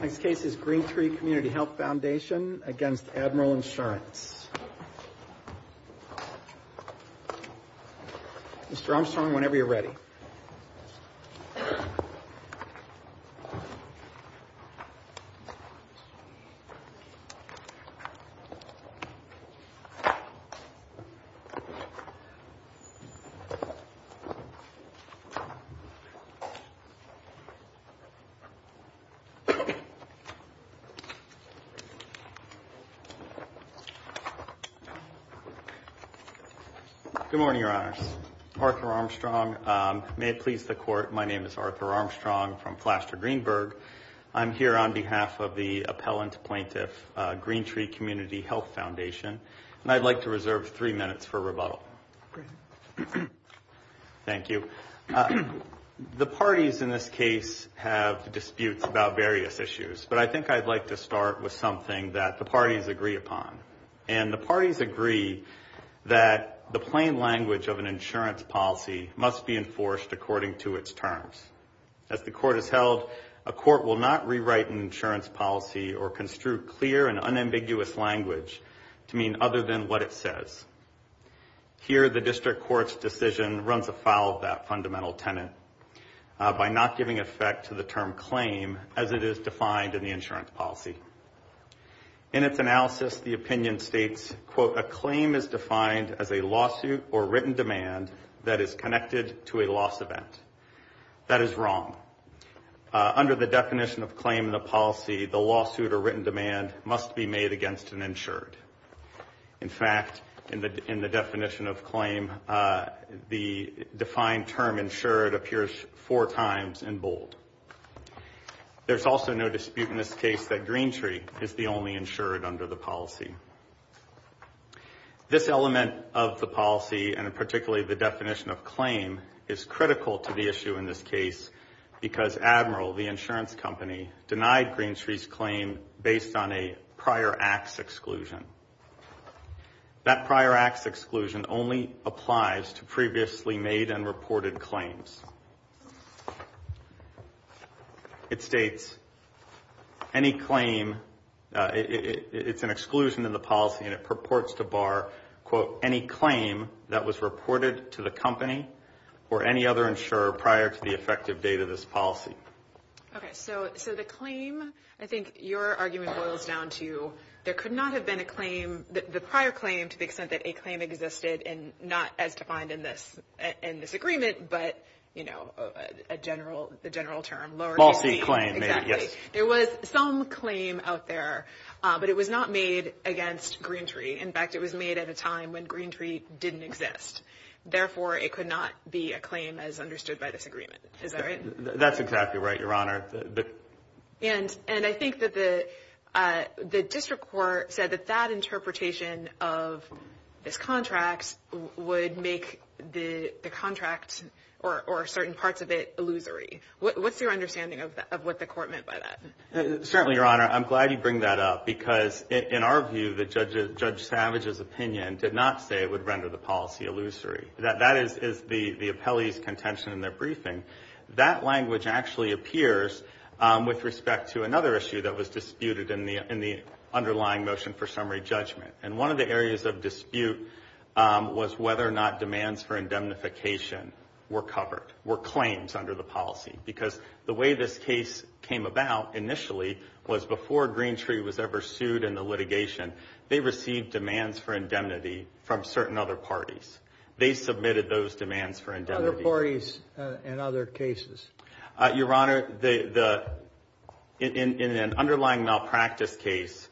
This case is Green Tree Community Health Foundation against AdmiralInsurance. Mr. Armstrong, whenever you're ready. Good morning, Your Honors. Arthur Armstrong. May it please the Court, my name is Arthur Armstrong from Flaster Greenberg. I'm here on behalf of the appellant plaintiff, Green Tree Community Health Foundation, and I'd like to reserve three minutes for rebuttal. Thank you. The parties in this case have disputes about various issues, but I think I'd like to start with something that the parties agree upon. And the parties agree that the plain language of an insurance policy must be enforced according to its terms. As the Court has held, a court will not rewrite an insurance policy or construe clear and unambiguous language to mean other than what it says. Here, the district court's decision runs afoul of that fundamental tenet by not giving effect to the term claim as it is defined in the insurance policy. In its analysis, the opinion states, quote, a claim is defined as a lawsuit or written demand that is connected to a loss event. That is wrong. Under the definition of claim in the policy, the lawsuit or written demand must be made against an insured. In fact, in the definition of claim, the defined term insured appears four times in bold. There's also no dispute in this case that Green Tree is the only insured under the policy. This element of the policy, and particularly the definition of claim, is critical to the issue in this case because Admiral, the insurance company, denied Green Tree's claim based on a prior acts exclusion. That prior acts exclusion only applies to previously made and reported claims. It states, any claim, it's an exclusion in the policy and it purports to bar, quote, any claim that was reported to the company or any other insurer prior to the effective date of this policy. Okay. So the claim, I think your argument boils down to, there could not have been a claim, the prior claim, to the extent that a claim existed in, not as defined in this agreement, but, you know, a general, the general term, lower claim. Falsy claim, maybe. Exactly. There was some claim out there, but it was not made against Green Tree. In fact, it was made at a time when Green Tree didn't exist. Therefore, it could not be a claim as understood by this agreement. Is that right? That's exactly right, Your Honor. And I think that the district court said that that interpretation of this contract would make the contract or certain parts of it illusory. What's your understanding of what the court meant by that? Certainly, Your Honor. I'm glad you bring that up because in our view, Judge Savage's opinion did not say it would render the policy illusory. That is the appellee's contention in their briefing. That language actually appears with respect to another issue that was disputed in the underlying motion for summary judgment. And one of the areas of dispute was whether or not demands for indemnification were covered, were claims under the policy. Because the way this case came about initially was before Green Tree was ever sued in the litigation, they received demands for indemnity from certain other parties. They submitted those demands for indemnity. Other parties and other cases. Your Honor, in an underlying malpractice case,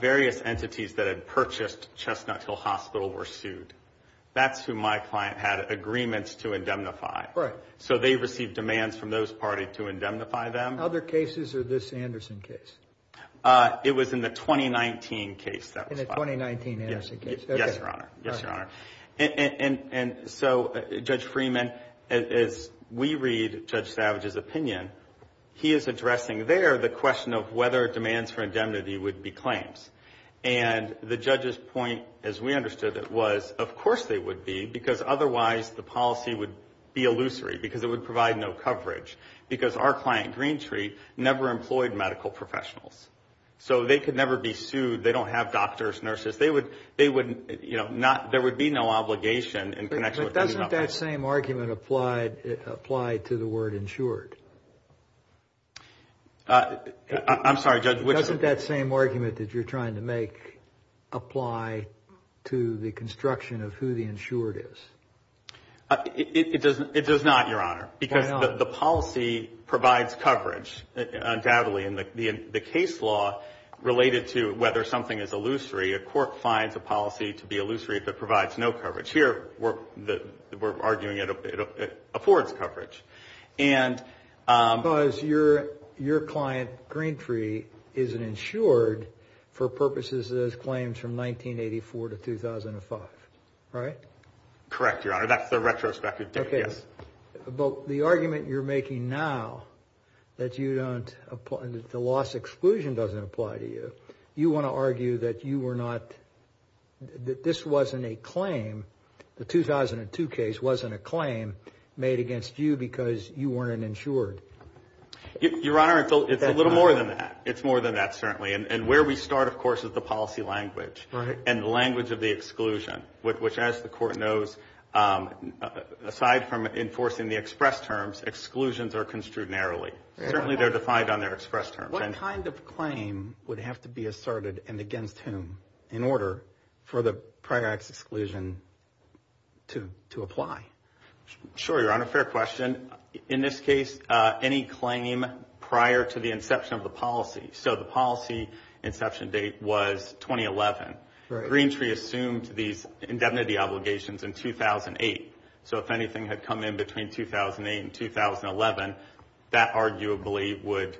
various entities that had purchased Chestnut Hill Hospital were sued. That's who my client had agreements to indemnify. Right. So they received demands from those parties to indemnify them. Other cases or this Anderson case? It was in the 2019 case that was filed. In the 2019 Anderson case. Yes, Your Honor. Yes, Your Honor. And so, Judge Freeman, as we read Judge Savage's opinion, he is addressing there the question of whether demands for indemnity would be claims. And the judge's point, as we understood it, was of course they would be because otherwise the policy would be illusory. Because it would provide no coverage. Because our client, Green Tree, never employed medical professionals. So they could never be sued. They don't have doctors, nurses. There would be no obligation in connection with indemnification. But doesn't that same argument apply to the word insured? I'm sorry, Judge, which? Doesn't that same argument that you're trying to make apply to the construction of who the It does not, Your Honor, because the policy provides coverage, undoubtedly. And the case law related to whether something is illusory, a court finds a policy to be illusory that provides no coverage. Here, we're arguing it affords coverage. Because your client, Green Tree, isn't insured for purposes of those claims from 1984 to 2005, right? Correct, Your Honor. That's the retrospective. But the argument you're making now, that the loss exclusion doesn't apply to you, you want to argue that this wasn't a claim, the 2002 case wasn't a claim made against you because you weren't insured. Your Honor, it's a little more than that. It's more than that, certainly. And where we start, of course, is the policy language. And the language of the exclusion, which as the court knows, aside from enforcing the express terms, exclusions are construed narrowly. Certainly, they're defined on their express terms. What kind of claim would have to be asserted and against whom in order for the prior act's exclusion to apply? Sure, Your Honor, fair question. In this case, any claim prior to the inception of the policy. So the policy inception date was 2011. Right. Green Tree assumed these indemnity obligations in 2008. So if anything had come in between 2008 and 2011, that arguably would,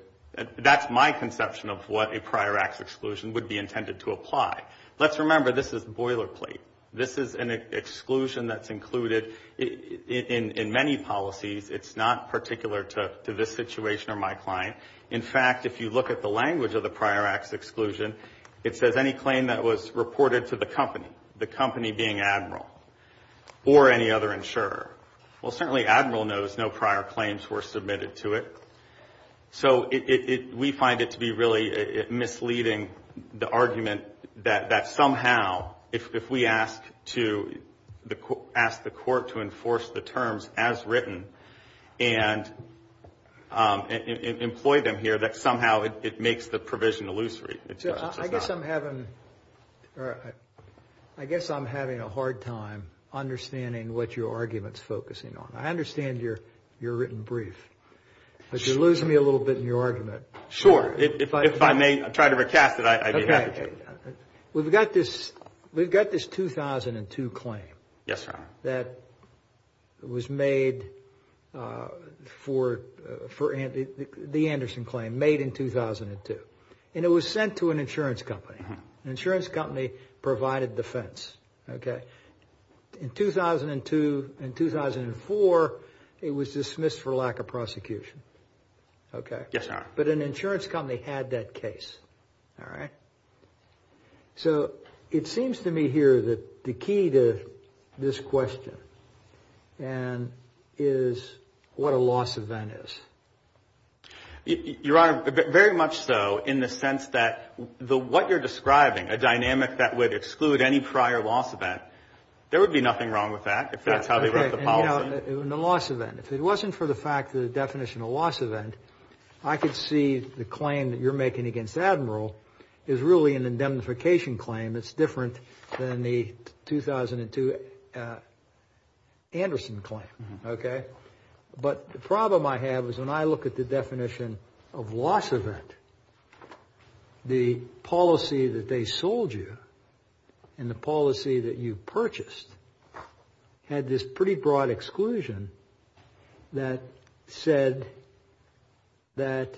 that's my conception of what a prior act's exclusion would be intended to apply. Let's remember, this is boilerplate. This is an exclusion that's included in many policies. It's not particular to this situation or my client. In fact, if you look at the language of the prior act's exclusion, it says any claim that was reported to the company, the company being Admiral or any other insurer. Well, certainly, Admiral knows no prior claims were submitted to it. So we find it to be really misleading, the argument that somehow, if we ask to, ask the company and employ them here, that somehow it makes the provision illusory. I guess I'm having a hard time understanding what your argument's focusing on. I understand your written brief, but you lose me a little bit in your argument. Sure, if I may try to recast it, I'd be happy to. We've got this 2002 claim. Yes, sir. That was made for the Anderson claim, made in 2002. And it was sent to an insurance company. An insurance company provided defense. In 2002 and 2004, it was dismissed for lack of prosecution. Yes, sir. But an insurance company had that case. All right. So it seems to me here that the key to this question is what a loss event is. Your Honor, very much so, in the sense that what you're describing, a dynamic that would exclude any prior loss event, there would be nothing wrong with that, if that's how they wrote the policy. You know, in the loss event, if it wasn't for the fact that the definition of loss event, I could see the claim that you're making against Admiral is really an indemnification claim that's different than the 2002 Anderson claim, okay? But the problem I have is when I look at the definition of loss event, the policy that they sold you and the policy that you purchased had this pretty broad exclusion that said that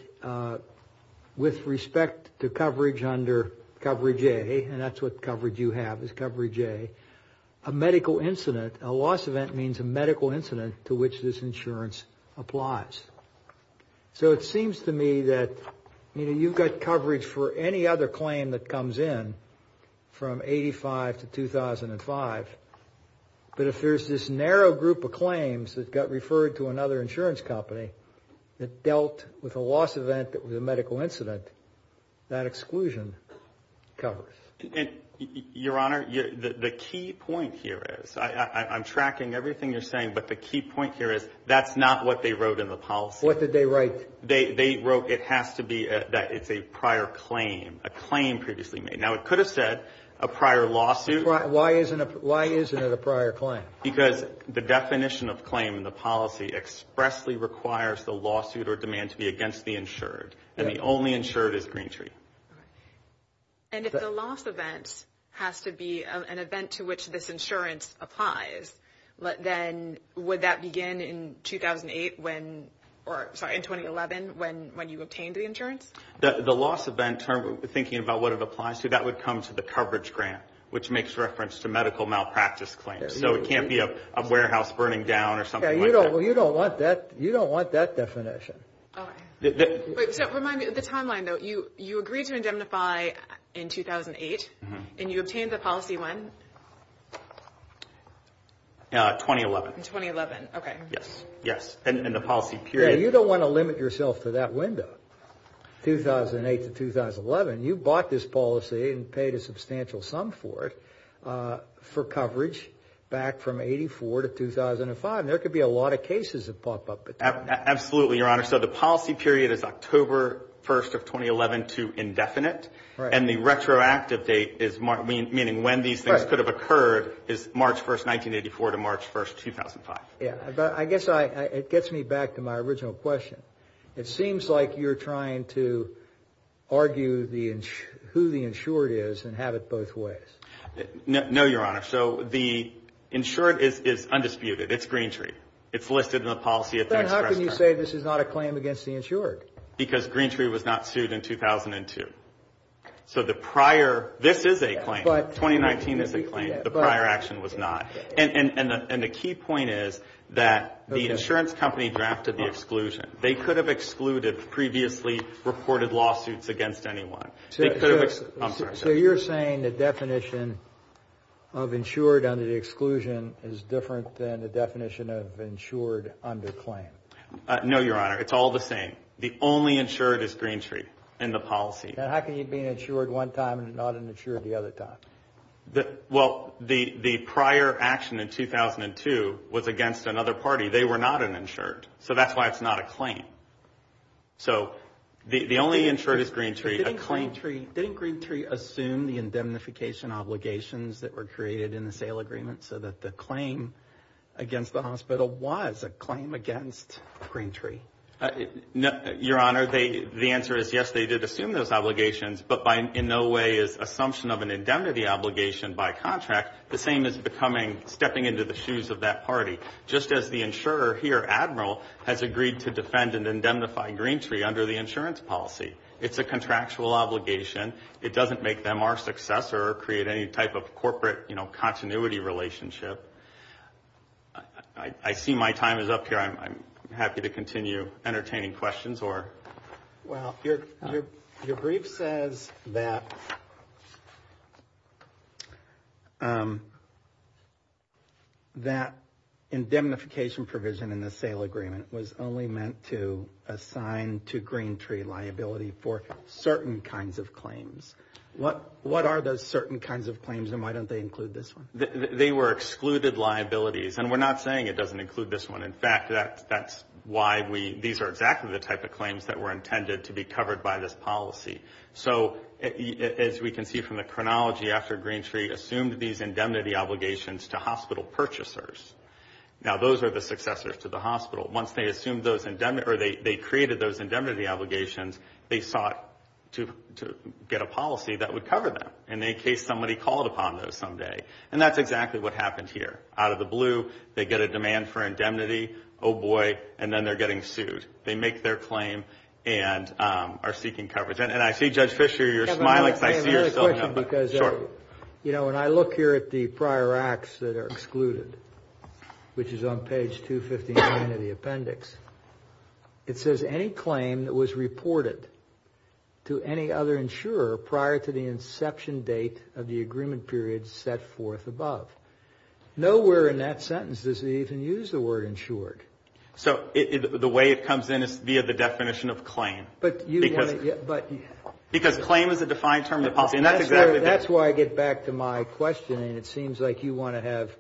with respect to coverage under coverage A, and that's what coverage you have, is coverage A, a medical incident, a loss event means a medical incident to which this insurance applies. So it seems to me that, you know, you've got coverage for any other claim that comes in from 85 to 2005, but if there's this narrow group of claims that got referred to another insurance company that dealt with a loss event that was a medical incident, that exclusion covers. Your Honor, the key point here is, I'm tracking everything you're saying, but the key point here is that's not what they wrote in the policy. What did they write? They wrote it has to be that it's a prior claim, a claim previously made. Now, it could have said a prior lawsuit. Why isn't it a prior claim? Because the definition of claim in the policy expressly requires the lawsuit or demand to be against the insured, and the only insured is Greentree. And if the loss event has to be an event to which this insurance applies, then would that begin in 2008 when, or sorry, in 2011 when you obtained the insurance? The loss event term, thinking about what it applies to, that would come to the coverage grant, which makes reference to medical malpractice claims. So it can't be a warehouse burning down or something like that. You don't want that definition. Okay. So remind me of the timeline, though. You agreed to indemnify in 2008, and you obtained the policy when? 2011. In 2011. Okay. Yes. Yes. And the policy period. Yeah, you don't want to limit yourself to that window, 2008 to 2011. You bought this policy and paid a substantial sum for it for coverage back from 84 to 2005. There could be a lot of cases that pop up at that time. Absolutely, Your Honor. So the policy period is October 1st of 2011 to indefinite. Right. And the retroactive date is, meaning when these things could have occurred, is March 1st, 1984 to March 1st, 2005. Yeah. But I guess it gets me back to my original question. It seems like you're trying to argue who the insured is and have it both ways. No, Your Honor. So the insured is undisputed. It's Greentree. It's listed in the policy. Then how can you say this is not a claim against the insured? Because Greentree was not sued in 2002. So the prior, this is a claim. 2019 is a claim. The prior action was not. And the key point is that the insurance company drafted the exclusion. They could have excluded previously reported lawsuits against anyone. I'm sorry. So you're saying the definition of insured under the exclusion is different than the definition of insured under claim? No, Your Honor. It's all the same. The only insured is Greentree in the policy. And how can you be an insured one time and not an insured the other time? Well, the prior action in 2002 was against another party. They were not an insured. So that's why it's not a claim. So the only insured is Greentree. Didn't Greentree assume the indemnification obligations that were created in the sale agreement so that the claim against the hospital was a claim against Greentree? Your Honor, the answer is yes, they did assume those obligations. But in no way is assumption of an indemnity obligation by contract the same as becoming stepping into the shoes of that party. Just as the insurer here, Admiral, has agreed to defend and indemnify Greentree under the insurance policy. It's a contractual obligation. It doesn't make them our successor or create any type of corporate, you know, continuity relationship. I see my time is up here. I'm happy to continue entertaining questions. Well, your brief says that that indemnification provision in the sale agreement was only meant to assign to Greentree liability for certain kinds of claims. What are those certain kinds of claims and why don't they include this one? They were excluded liabilities. And we're not saying it doesn't include this one. In fact, that's why we, these are exactly the type of claims that were intended to be covered by this policy. So, as we can see from the chronology after Greentree assumed these indemnity obligations to hospital purchasers. Now, those are the successors to the hospital. Once they assumed those, or they created those indemnity obligations, they sought to get a policy that would cover them. And in case somebody called upon those someday. And that's exactly what happened here. Out of the blue, they get a demand for indemnity. Oh, boy. And then they're getting sued. They make their claim and are seeking coverage. And I see, Judge Fisher, you're smiling. I see you're soaking up. Sure. You know, when I look here at the prior acts that are excluded, which is on page 259 of the appendix, it says any claim that was reported to any other insurer prior to the inception date of the agreement period set forth above. Nowhere in that sentence does it even use the word insured. So, the way it comes in is via the definition of claim. Because claim is a defined term of the policy. That's why I get back to my question. It seems like you want to have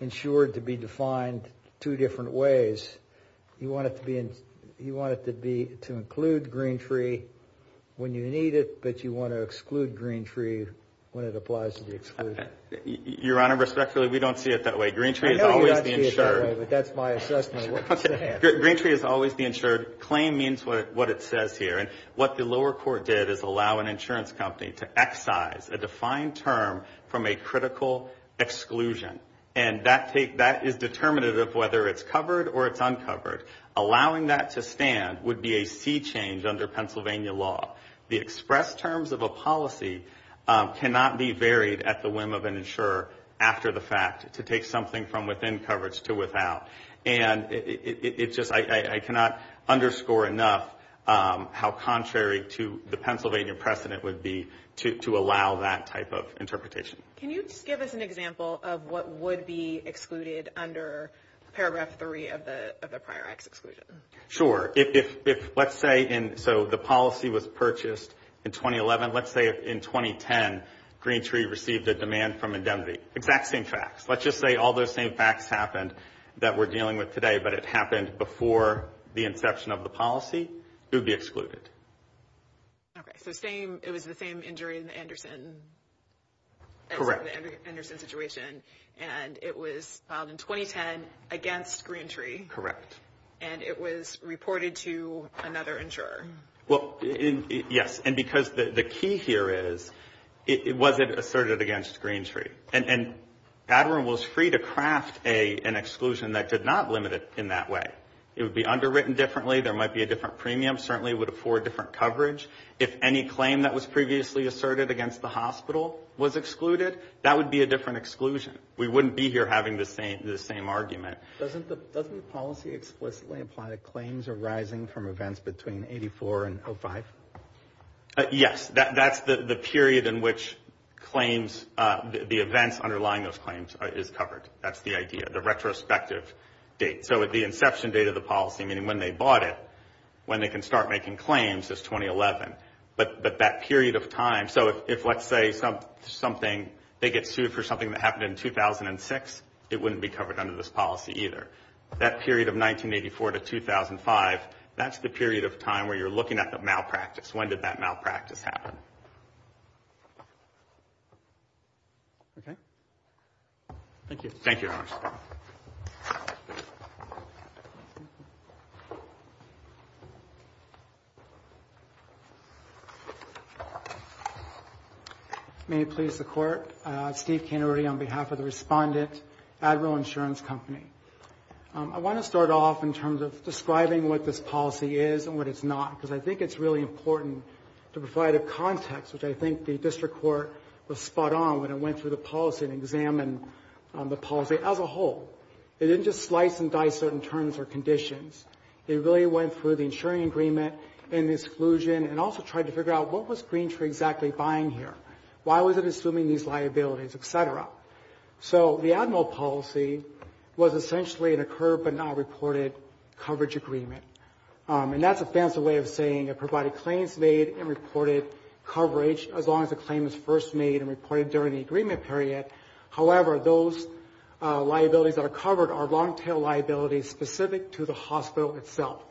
insured to be defined two different ways. You want it to include Greentree when you need it, but you want to exclude Greentree when it applies to the excluded. Your Honor, respectfully, we don't see it that way. Greentree is always the insured. I know you don't see it that way, but that's my assessment. Greentree is always the insured. Claim means what it says here. And what the lower court did is allow an insurance company to excise a defined term from a critical exclusion. And that is determinative of whether it's covered or it's uncovered. Allowing that to stand would be a sea change under Pennsylvania law. The expressed terms of a policy cannot be varied at the whim of an insurer after the fact to take something from within coverage to without. And it's just, I cannot underscore enough how contrary to the Pennsylvania precedent would be to allow that type of interpretation. Can you just give us an example of what would be excluded under Paragraph 3 of the Prior Acts Exclusion? Sure. If, let's say, so the policy was purchased in 2011. Let's say in 2010, Greentree received a demand from indemnity. Exact same facts. Let's just say all those same facts happened that we're dealing with today, but it happened before the inception of the policy, it would be excluded. Okay. So it was the same injury in the Anderson situation. Correct. And it was filed in 2010 against Greentree. Correct. And it was reported to another insurer. Well, yes. And because the key here is, was it asserted against Greentree? And Badwin was free to craft an exclusion that did not limit it in that way. It would be underwritten differently. There might be a different premium. Certainly it would afford different coverage. If any claim that was previously asserted against the hospital was excluded, that would be a different exclusion. We wouldn't be here having the same argument. Doesn't the policy explicitly apply to claims arising from events between 84 and 05? Yes. That's the period in which claims, the events underlying those claims, is covered. That's the idea. The retrospective date. So the inception date of the policy, meaning when they bought it, when they can start making claims, is 2011. But that period of time, so if let's say something, they get sued for something that happened in 2006, it wouldn't be covered under this policy either. That period of 1984 to 2005, that's the period of time where you're looking at the malpractice. When did that malpractice happen? Okay. Thank you. Thank you very much. May it please the Court. Steve Canary on behalf of the Respondent, Admiral Insurance Company. I want to start off in terms of describing what this policy is and what it's not, because I think it's really important to provide a context which I think the District Court was spot on when it went through the policy and examined the policy as a whole. It didn't just slice and dice certain terms or conditions. It really went through the insuring agreement and exclusion and also tried to figure out what was Green Tree exactly buying here. Why was it assuming these liabilities, et cetera? So the Admiral policy was essentially an occurred but not reported coverage agreement. And that's a fancy way of saying it provided claims made and reported coverage as long as the claim is first made and reported during the agreement period. However, those liabilities that are covered are long-tail liabilities specific to the hospital itself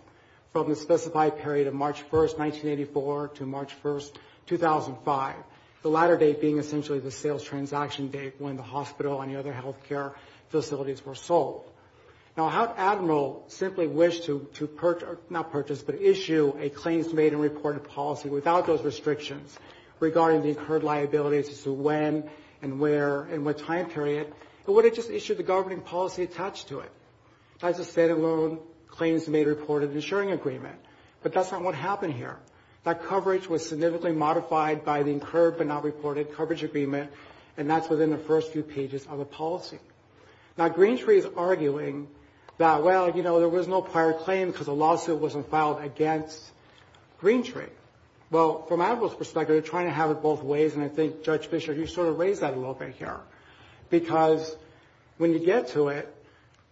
from the specified period of March 1, 1984, to March 1, 2005. The latter date being essentially the sales transaction date when the hospital and the other health care facilities were sold. Now, how'd Admiral simply wish to purchase, not purchase, but issue a claims made and reported policy without those restrictions regarding the incurred liabilities as to when and where and what time period? It would have just issued the governing policy attached to it. That's a state-of-the-art claims made reported insuring agreement. But that's not what happened here. That coverage was significantly modified by the incurred but not reported coverage agreement, and that's within the first few pages of the policy. Now, Greentree is arguing that, well, you know, there was no prior claim because the lawsuit wasn't filed against Greentree. Well, from Admiral's perspective, they're trying to have it both ways, and I think, Judge Fischer, you sort of raised that a little bit here. Because when you get to it,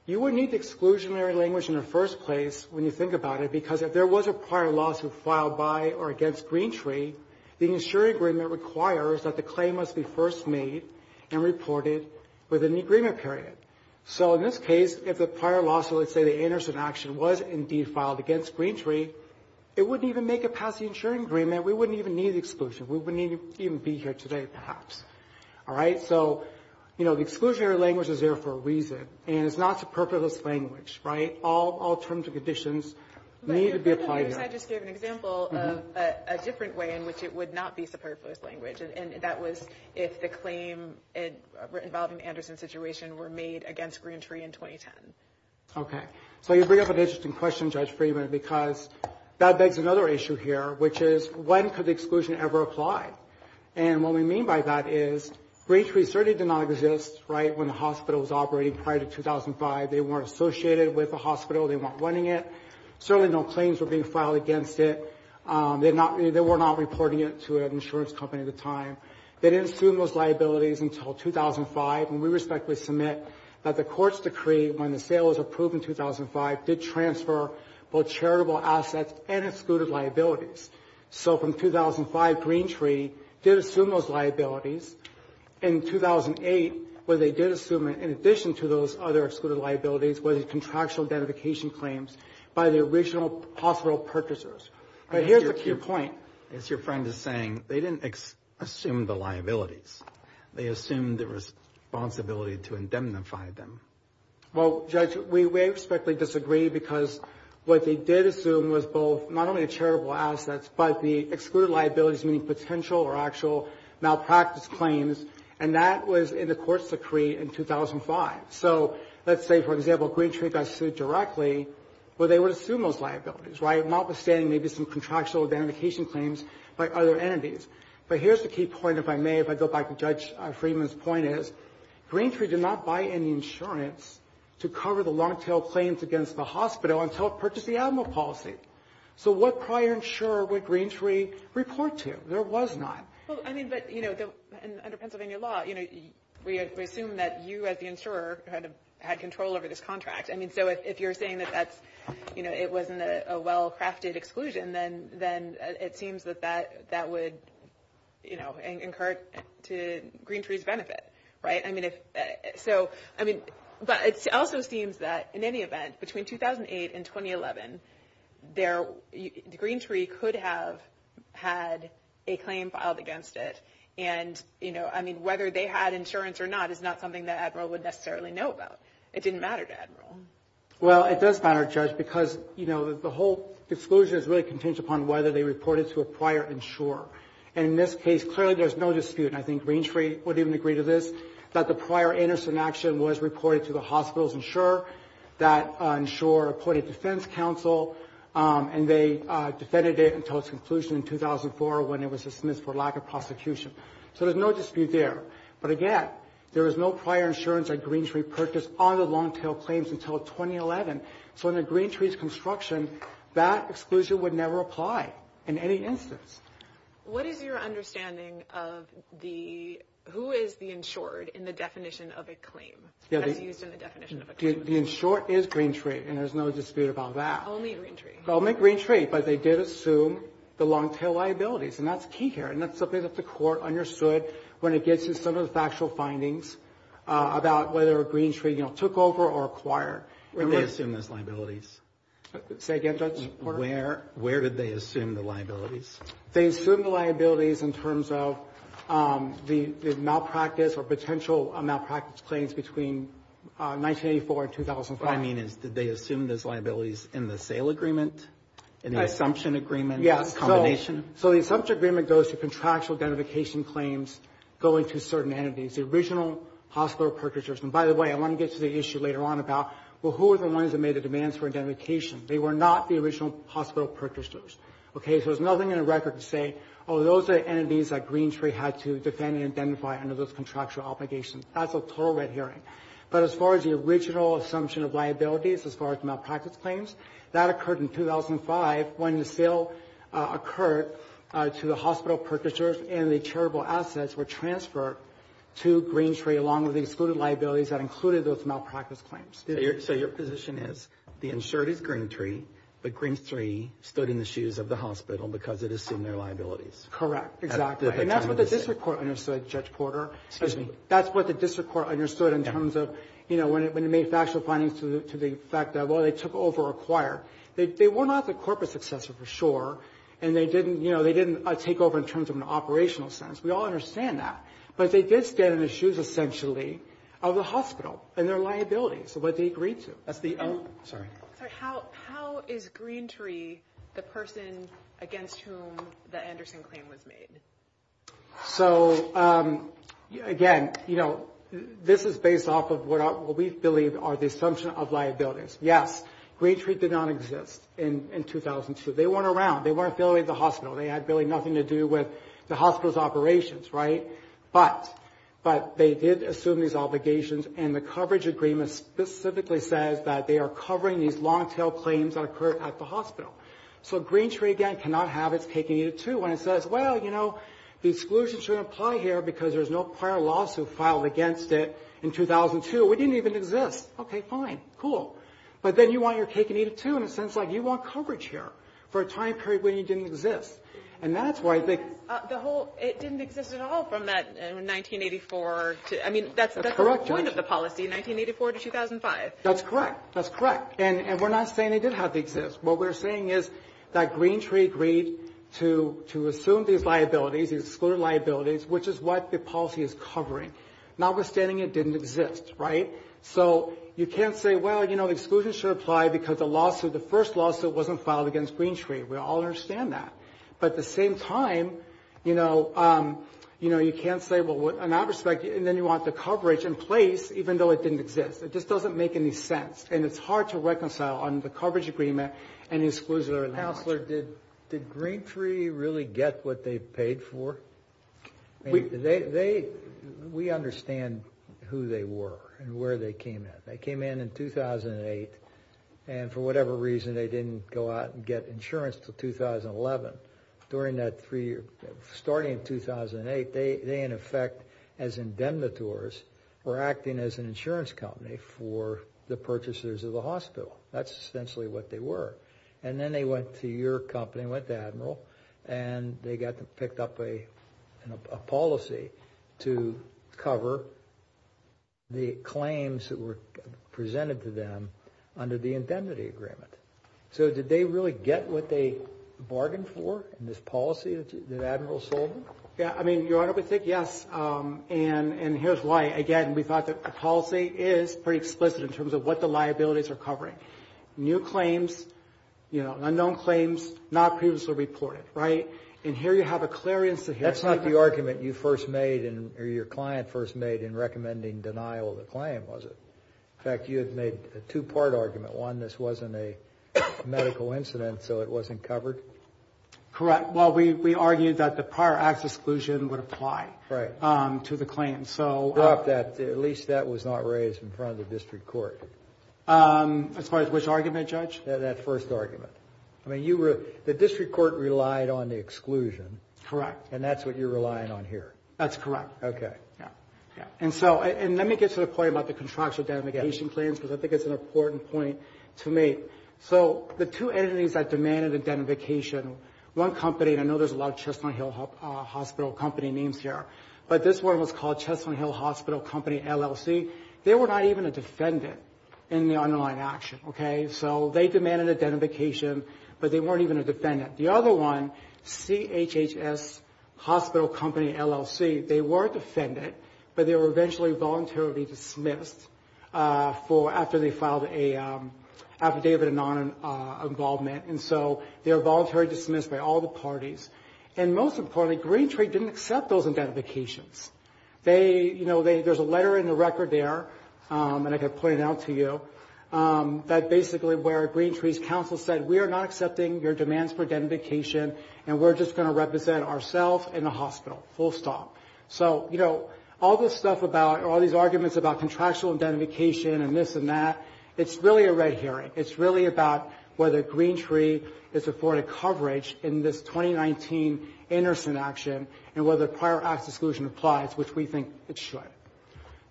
you would need exclusionary language in the first place when you think about it, because if there was a prior lawsuit filed by or against Greentree, the insuring agreement requires that the claim must be first made and reported within the agreement period. So in this case, if the prior lawsuit, let's say the Anderson action was indeed filed against Greentree, it wouldn't even make it past the insuring agreement. We wouldn't even need exclusion. We wouldn't even be here today, perhaps. All right? So, you know, the exclusionary language is there for a reason, and it's not superfluous language, right? All terms and conditions need to be applied here. Can I just give an example of a different way in which it would not be superfluous language, and that was if the claim involving the Anderson situation were made against Greentree in 2010. Okay. So you bring up an interesting question, Judge Freeman, because that begs another issue here, which is when could exclusion ever apply? And what we mean by that is Greentree certainly did not exist, right, when the hospital was operating prior to 2005. They weren't associated with the hospital. They weren't running it. Certainly no claims were being filed against it. They were not reporting it to an insurance company at the time. They didn't assume those liabilities until 2005, and we respectfully submit that the court's decree, when the sale was approved in 2005, did transfer both charitable assets and excluded liabilities. So from 2005, Greentree did assume those liabilities. In 2008, where they did assume it, in addition to those other excluded liabilities were the contractual identification claims by the original hospital purchasers. But here's a key point. As your friend is saying, they didn't assume the liabilities. They assumed the responsibility to indemnify them. Well, Judge, we respectfully disagree, because what they did assume was both not only charitable assets, but the excluded liabilities, meaning potential or actual malpractice claims, and that was in the court's decree in 2005. So let's say, for example, Greentree got sued directly, well, they would assume those liabilities, right, notwithstanding maybe some contractual identification claims by other entities. But here's the key point, if I may, if I go back to Judge Freeman's point, is Greentree did not buy any insurance to cover the long-tail claims against the hospital until it purchased the animal policy. So what prior insurer would Greentree report to? There was not. Well, I mean, but, you know, under Pennsylvania law, you know, we assume that you as the insurer had control over this contract. I mean, so if you're saying that that's, you know, it wasn't a well-crafted exclusion, then it seems that that would, you know, incur to Greentree's benefit, right? I mean, if... So, I mean, but it also seems that, in any event, between 2008 and 2011, there... Greentree could have had a claim filed against it. And, you know, I mean, whether they had insurance or not is not something that Admiral would necessarily know about. It didn't matter to Admiral. Well, it does matter, Judge, because, you know, the whole exclusion is really contingent upon whether they reported to a prior insurer. And in this case, clearly there's no dispute, and I think Greentree would even agree to this, that the prior Anderson action was reported to the hospital's insurer, that insurer reported to defense counsel, and they defended it until its conclusion in 2004 when it was dismissed for lack of prosecution. So there's no dispute there. But again, there was no prior insurance that Greentree purchased on the Longtail claims until 2011. So under Greentree's construction, that exclusion would never apply in any instance. What is your understanding of the... Who is the insured in the definition of a claim as used in the definition of a claim? The insured is Greentree, and there's no dispute about that. Only Greentree. Only Greentree, but they did assume the Longtail liabilities, and that's key here, and that's something that the Court understood when it gets to some of the factual findings about whether Greentree, you know, took over or acquired. Where did they assume those liabilities? Say again, Judge Porter? Where did they assume the liabilities? They assumed the liabilities in terms of the malpractice or potential malpractice claims between 1984 and 2005. What I mean is, did they assume those liabilities in the sale agreement? In the assumption agreement? Yes. Combination? So the assumption agreement goes to contractual identification claims going to certain entities, the original hospital purchasers. And by the way, I want to get to the issue later on about, well, who are the ones that made the demands for identification? They were not the original hospital purchasers, okay? So there's nothing in the record to say, oh, those are entities that Greentree had to defend and identify under those contractual obligations. That's a total red herring. But as far as the original assumption of liabilities, as far as malpractice claims, that occurred in 2005 when the sale occurred to the hospital purchasers and the charitable assets were transferred to Greentree along with the excluded liabilities that included those malpractice claims. So your position is the insured is Greentree, but Greentree stood in the shoes of the hospital because it assumed their liabilities. Correct. Exactly. And that's what this report understood, Judge Porter. Excuse me. That's what the district court understood in terms of, you know, when it made factual findings to the fact that, well, they took over or acquired. They were not the corporate successor for sure, and they didn't, you know, they didn't take over in terms of an operational sense. We all understand that. But they did stand in the shoes, essentially, of the hospital and their liabilities, what they agreed to. That's the... Oh, sorry. Sorry, how is Greentree the person against whom the Anderson claim was made? So, again, you know, this is based off of what we believe are the assumption of liabilities. Yes, Greentree did not exist in 2002. They weren't around. They weren't affiliated with the hospital. They had really nothing to do with the hospital's operations, right? But they did assume these obligations, and the coverage agreement specifically says that they are covering these long-tail claims that occurred at the hospital. So Greentree, again, cannot have its taking either, too, when it says, well, you know, the exclusion shouldn't apply here because there's no prior lawsuit filed against it in 2002. It didn't even exist. Okay, fine, cool. But then you want your cake and eat it, too, in a sense like you want coverage here for a time period when it didn't exist. And that's why I think... The whole... It didn't exist at all from that... 1984 to... I mean, that's the point of the policy, 1984 to 2005. That's correct. That's correct. And we're not saying they did have to exist. What we're saying is that Greentree agreed to assume these liabilities, these excluded liabilities, which is what the policy is covering, notwithstanding it didn't exist, right? So you can't say, well, you know, exclusion should apply because the lawsuit, the first lawsuit, wasn't filed against Greentree. We all understand that. But at the same time, you know, you know, you can't say, well, in that respect, and then you want the coverage in place even though it didn't exist. It just doesn't make any sense, and it's hard to reconcile on the coverage agreement and the exclusionary language. Mr. Chancellor, did Greentree really get what they paid for? We understand who they were and where they came in. They came in in 2008, and for whatever reason, they didn't go out and get insurance until 2011. During that three year, starting in 2008, they, in effect, as indemnitors, were acting as an insurance company for the purchasers of the hospital. That's essentially what they were. And then they went to your company, went to Admiral, and they picked up a policy to cover the claims that were presented to them under the indemnity agreement. So did they really get what they bargained for in this policy that Admiral sold them? Yeah, I mean, Your Honor, we think yes, and here's why. Again, we thought that the policy is pretty explicit in terms of what the liabilities are covering. New claims, you know, unknown claims not previously reported, right? And here you have a clearance to hear... That's not the argument you first made or your client first made in recommending denial of the claim, was it? In fact, you had made a two-part argument. One, this wasn't a medical incident, so it wasn't covered. Correct. Well, we argued that the prior acts exclusion would apply to the claim, so... At least that was not raised in front of the district court. As far as which argument, Judge? That first argument. I mean, you were... The district court relied on the exclusion. Correct. And that's what you're relying on here. That's correct. Okay. Yeah, yeah. And so, and let me get about the contractual identification claims because I think it's an important point to make. So, the two entities that demanded identification, one company, and I know there's a lot of Chestnut Hill Hospital Company names here, but this one was called Chestnut Hill Hospital Company, LLC. They were not even a defendant in the underlying action, okay? So, they demanded identification, but they weren't even a defendant. The other one, CHHS Hospital Company, LLC, they were a defendant, but they were eventually voluntarily dismissed for, after they filed an affidavit of non-involvement. And so, they were voluntarily dismissed by all the parties. And most importantly, GreenTree didn't accept those identifications. They, you know, there's a letter in the record there, and I can point it out to you, that basically where GreenTree's counsel said, we are not accepting your demands for identification and we're just going to represent ourselves in the hospital, full stop. So, you know, all this stuff about, all these arguments about contractual identification and this and that, it's really a red herring. It's really about whether GreenTree is afforded coverage in this 2019 Anderson action and whether prior acts exclusion applies, which we think it should.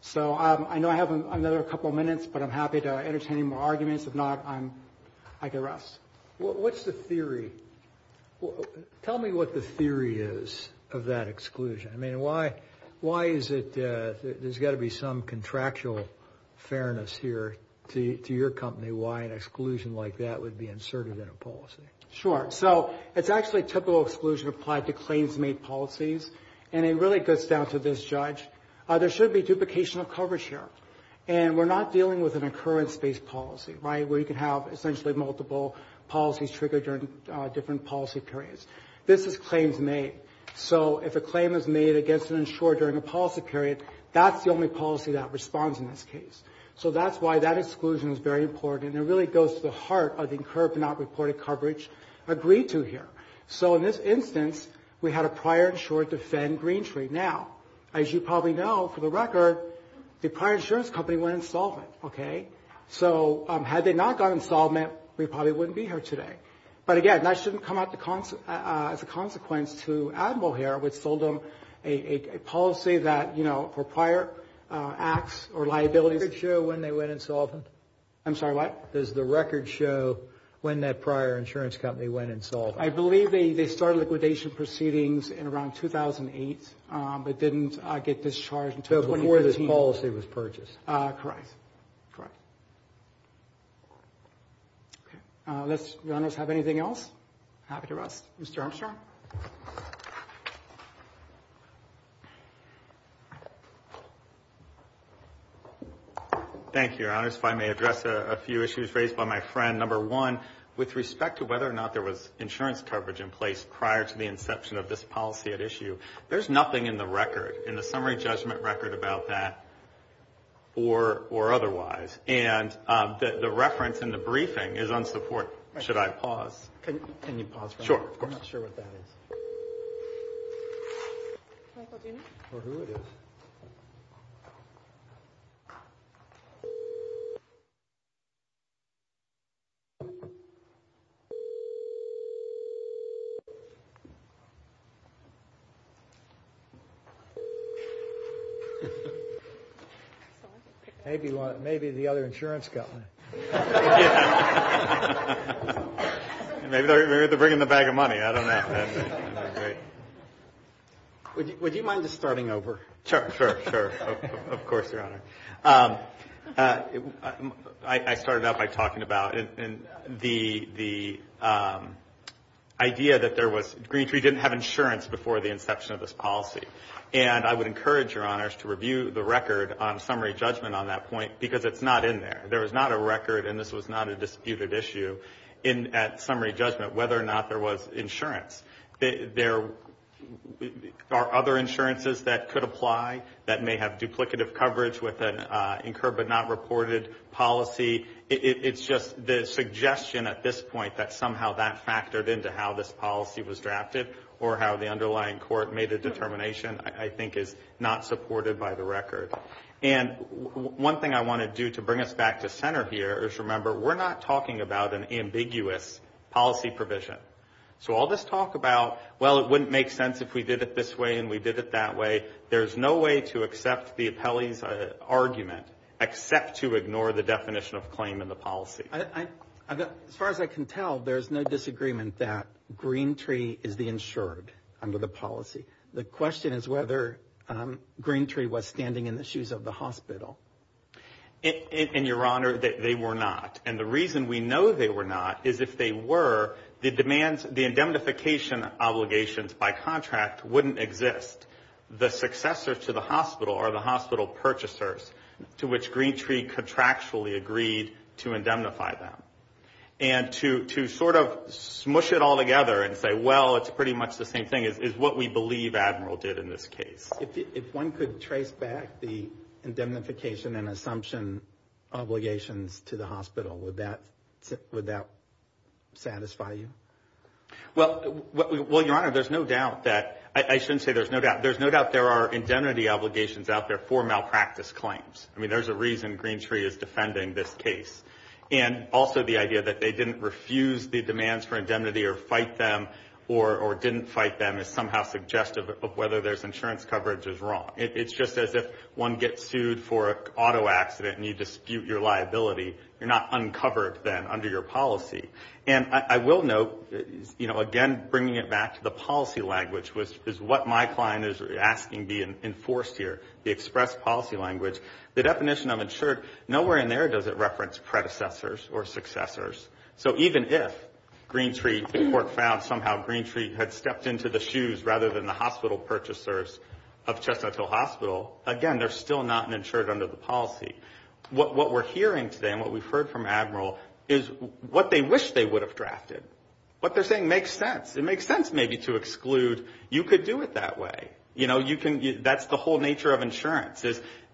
So, I know I have another couple of minutes, but I'm happy to entertain any more arguments. If not, I can rest. What's the theory? Tell me what the theory is of that exclusion. I mean, why is it there's got to be some contractual fairness here to your company, why an exclusion like that would be inserted in a policy? Sure. So, it's actually a typical exclusion applied to claims made policies and it really goes down to this judge. There should be duplication of coverage here and we're not dealing with an occurrence-based policy, right, where you can have essentially multiple policies triggered during different policy periods. This is claims made. So, if a claim is made against an insurer during a policy period, that's the only policy that responds in this case. So, that's why that exclusion is very important and it really goes to the heart of the incurred but not reported coverage agreed to here. So, in this instance, we had a prior defend Greentree. Now, as you probably know, for the record, the prior insurance company went insolvent, okay? So, had they not gone insolvent, we probably wouldn't be here today. But, again, that shouldn't come out as a consequence to Admiral here, which sold them a policy that, you know, for prior acts or liabilities. Does the record show when that prior insurance company went insolvent? I believe they started liquidation proceedings in around 2015. Happy to rest. Mr. Armstrong? Thank you, Your Honors. If I may address a few issues raised by my friend. Number one, with respect to whether or not there was insurance coverage in place prior to the inception of this policy at issue, there's nothing in the record, in the summary judgment record, about that or otherwise. And the reference in the briefing is unsupporting. Should I pause? Can you pause for a moment? Sure. Of course. I'm not sure what that is. Michael Junior? Or who it is. Maybe the other insurance Maybe they're bringing the bag of money. I don't know. Would you mind just starting over? sure, sure. Of course, Your Honor. I started out by talking about the idea that there was didn't have insurance before the inception of this policy. And I would encourage Your Honors to review the record on summary judgment on that basis. There are other insurances that could apply that may have duplicative coverage with an incurred but not reported policy. It's just the suggestion at this point that somehow that factored into how this came I don't want to talk about well it wouldn't make sense if we did it this way and we did it that way. There's no way to accept the appellee's argument except to ignore the definition of claim and the policy. As far as I can tell there's no disagreement that Green Tree is the insured under the policy. The question is whether Green Tree was standing in the shoes of the hospital. And Your Honor, the successor to the hospital are the hospital purchasers to which Green Tree contractually agreed to indemnify them. And to smush it together is what we believe Admiral did in this case. If one gets sued for an auto accident and you dispute your liability you're not uncovered then under your policy. And I will note again bringing it back to the policy language is what my client is asking be enforced here. The express policy language. The definition of insured nowhere in there does it reference predecessors or successors. So even if Green Tree had stepped into the shoes rather than the hospital you know you can that's the whole nature of insurance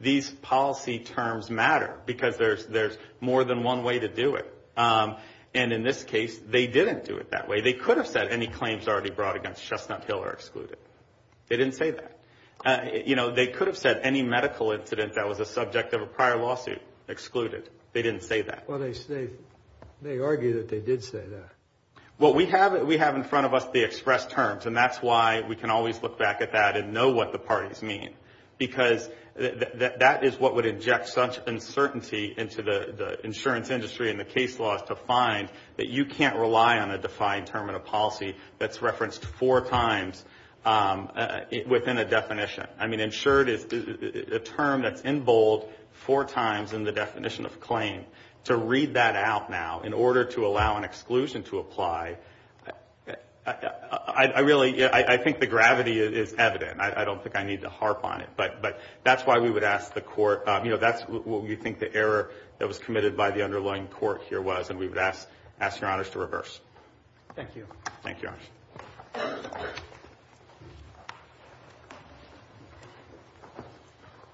these policy terms matter because there's more than one way to do it. And in this case they didn't do it that way. They could have said any claims brought against Chestnut Hill are excluded. They didn't say that. You know they could have said any medical incident that was a subject of a prior lawsuit excluded. They didn't say that. Well they say they argue that they did say that. Well we have we have in front of us the express terms and that's why we can always look back at that and know what the parties mean because that is what would inject such uncertainty into the insurance industry and the case laws to find that you can't rely on a defined term and a policy that's referenced four times within a definition. Insured is a term that's in bold four times in the definition of claim. To read that out now in order to allow an exclusion to apply I really I think the gravity is evident. I don't think I need to harp on it. But that's why we would ask the court you know that's what we think the error that was committed by the Thank you.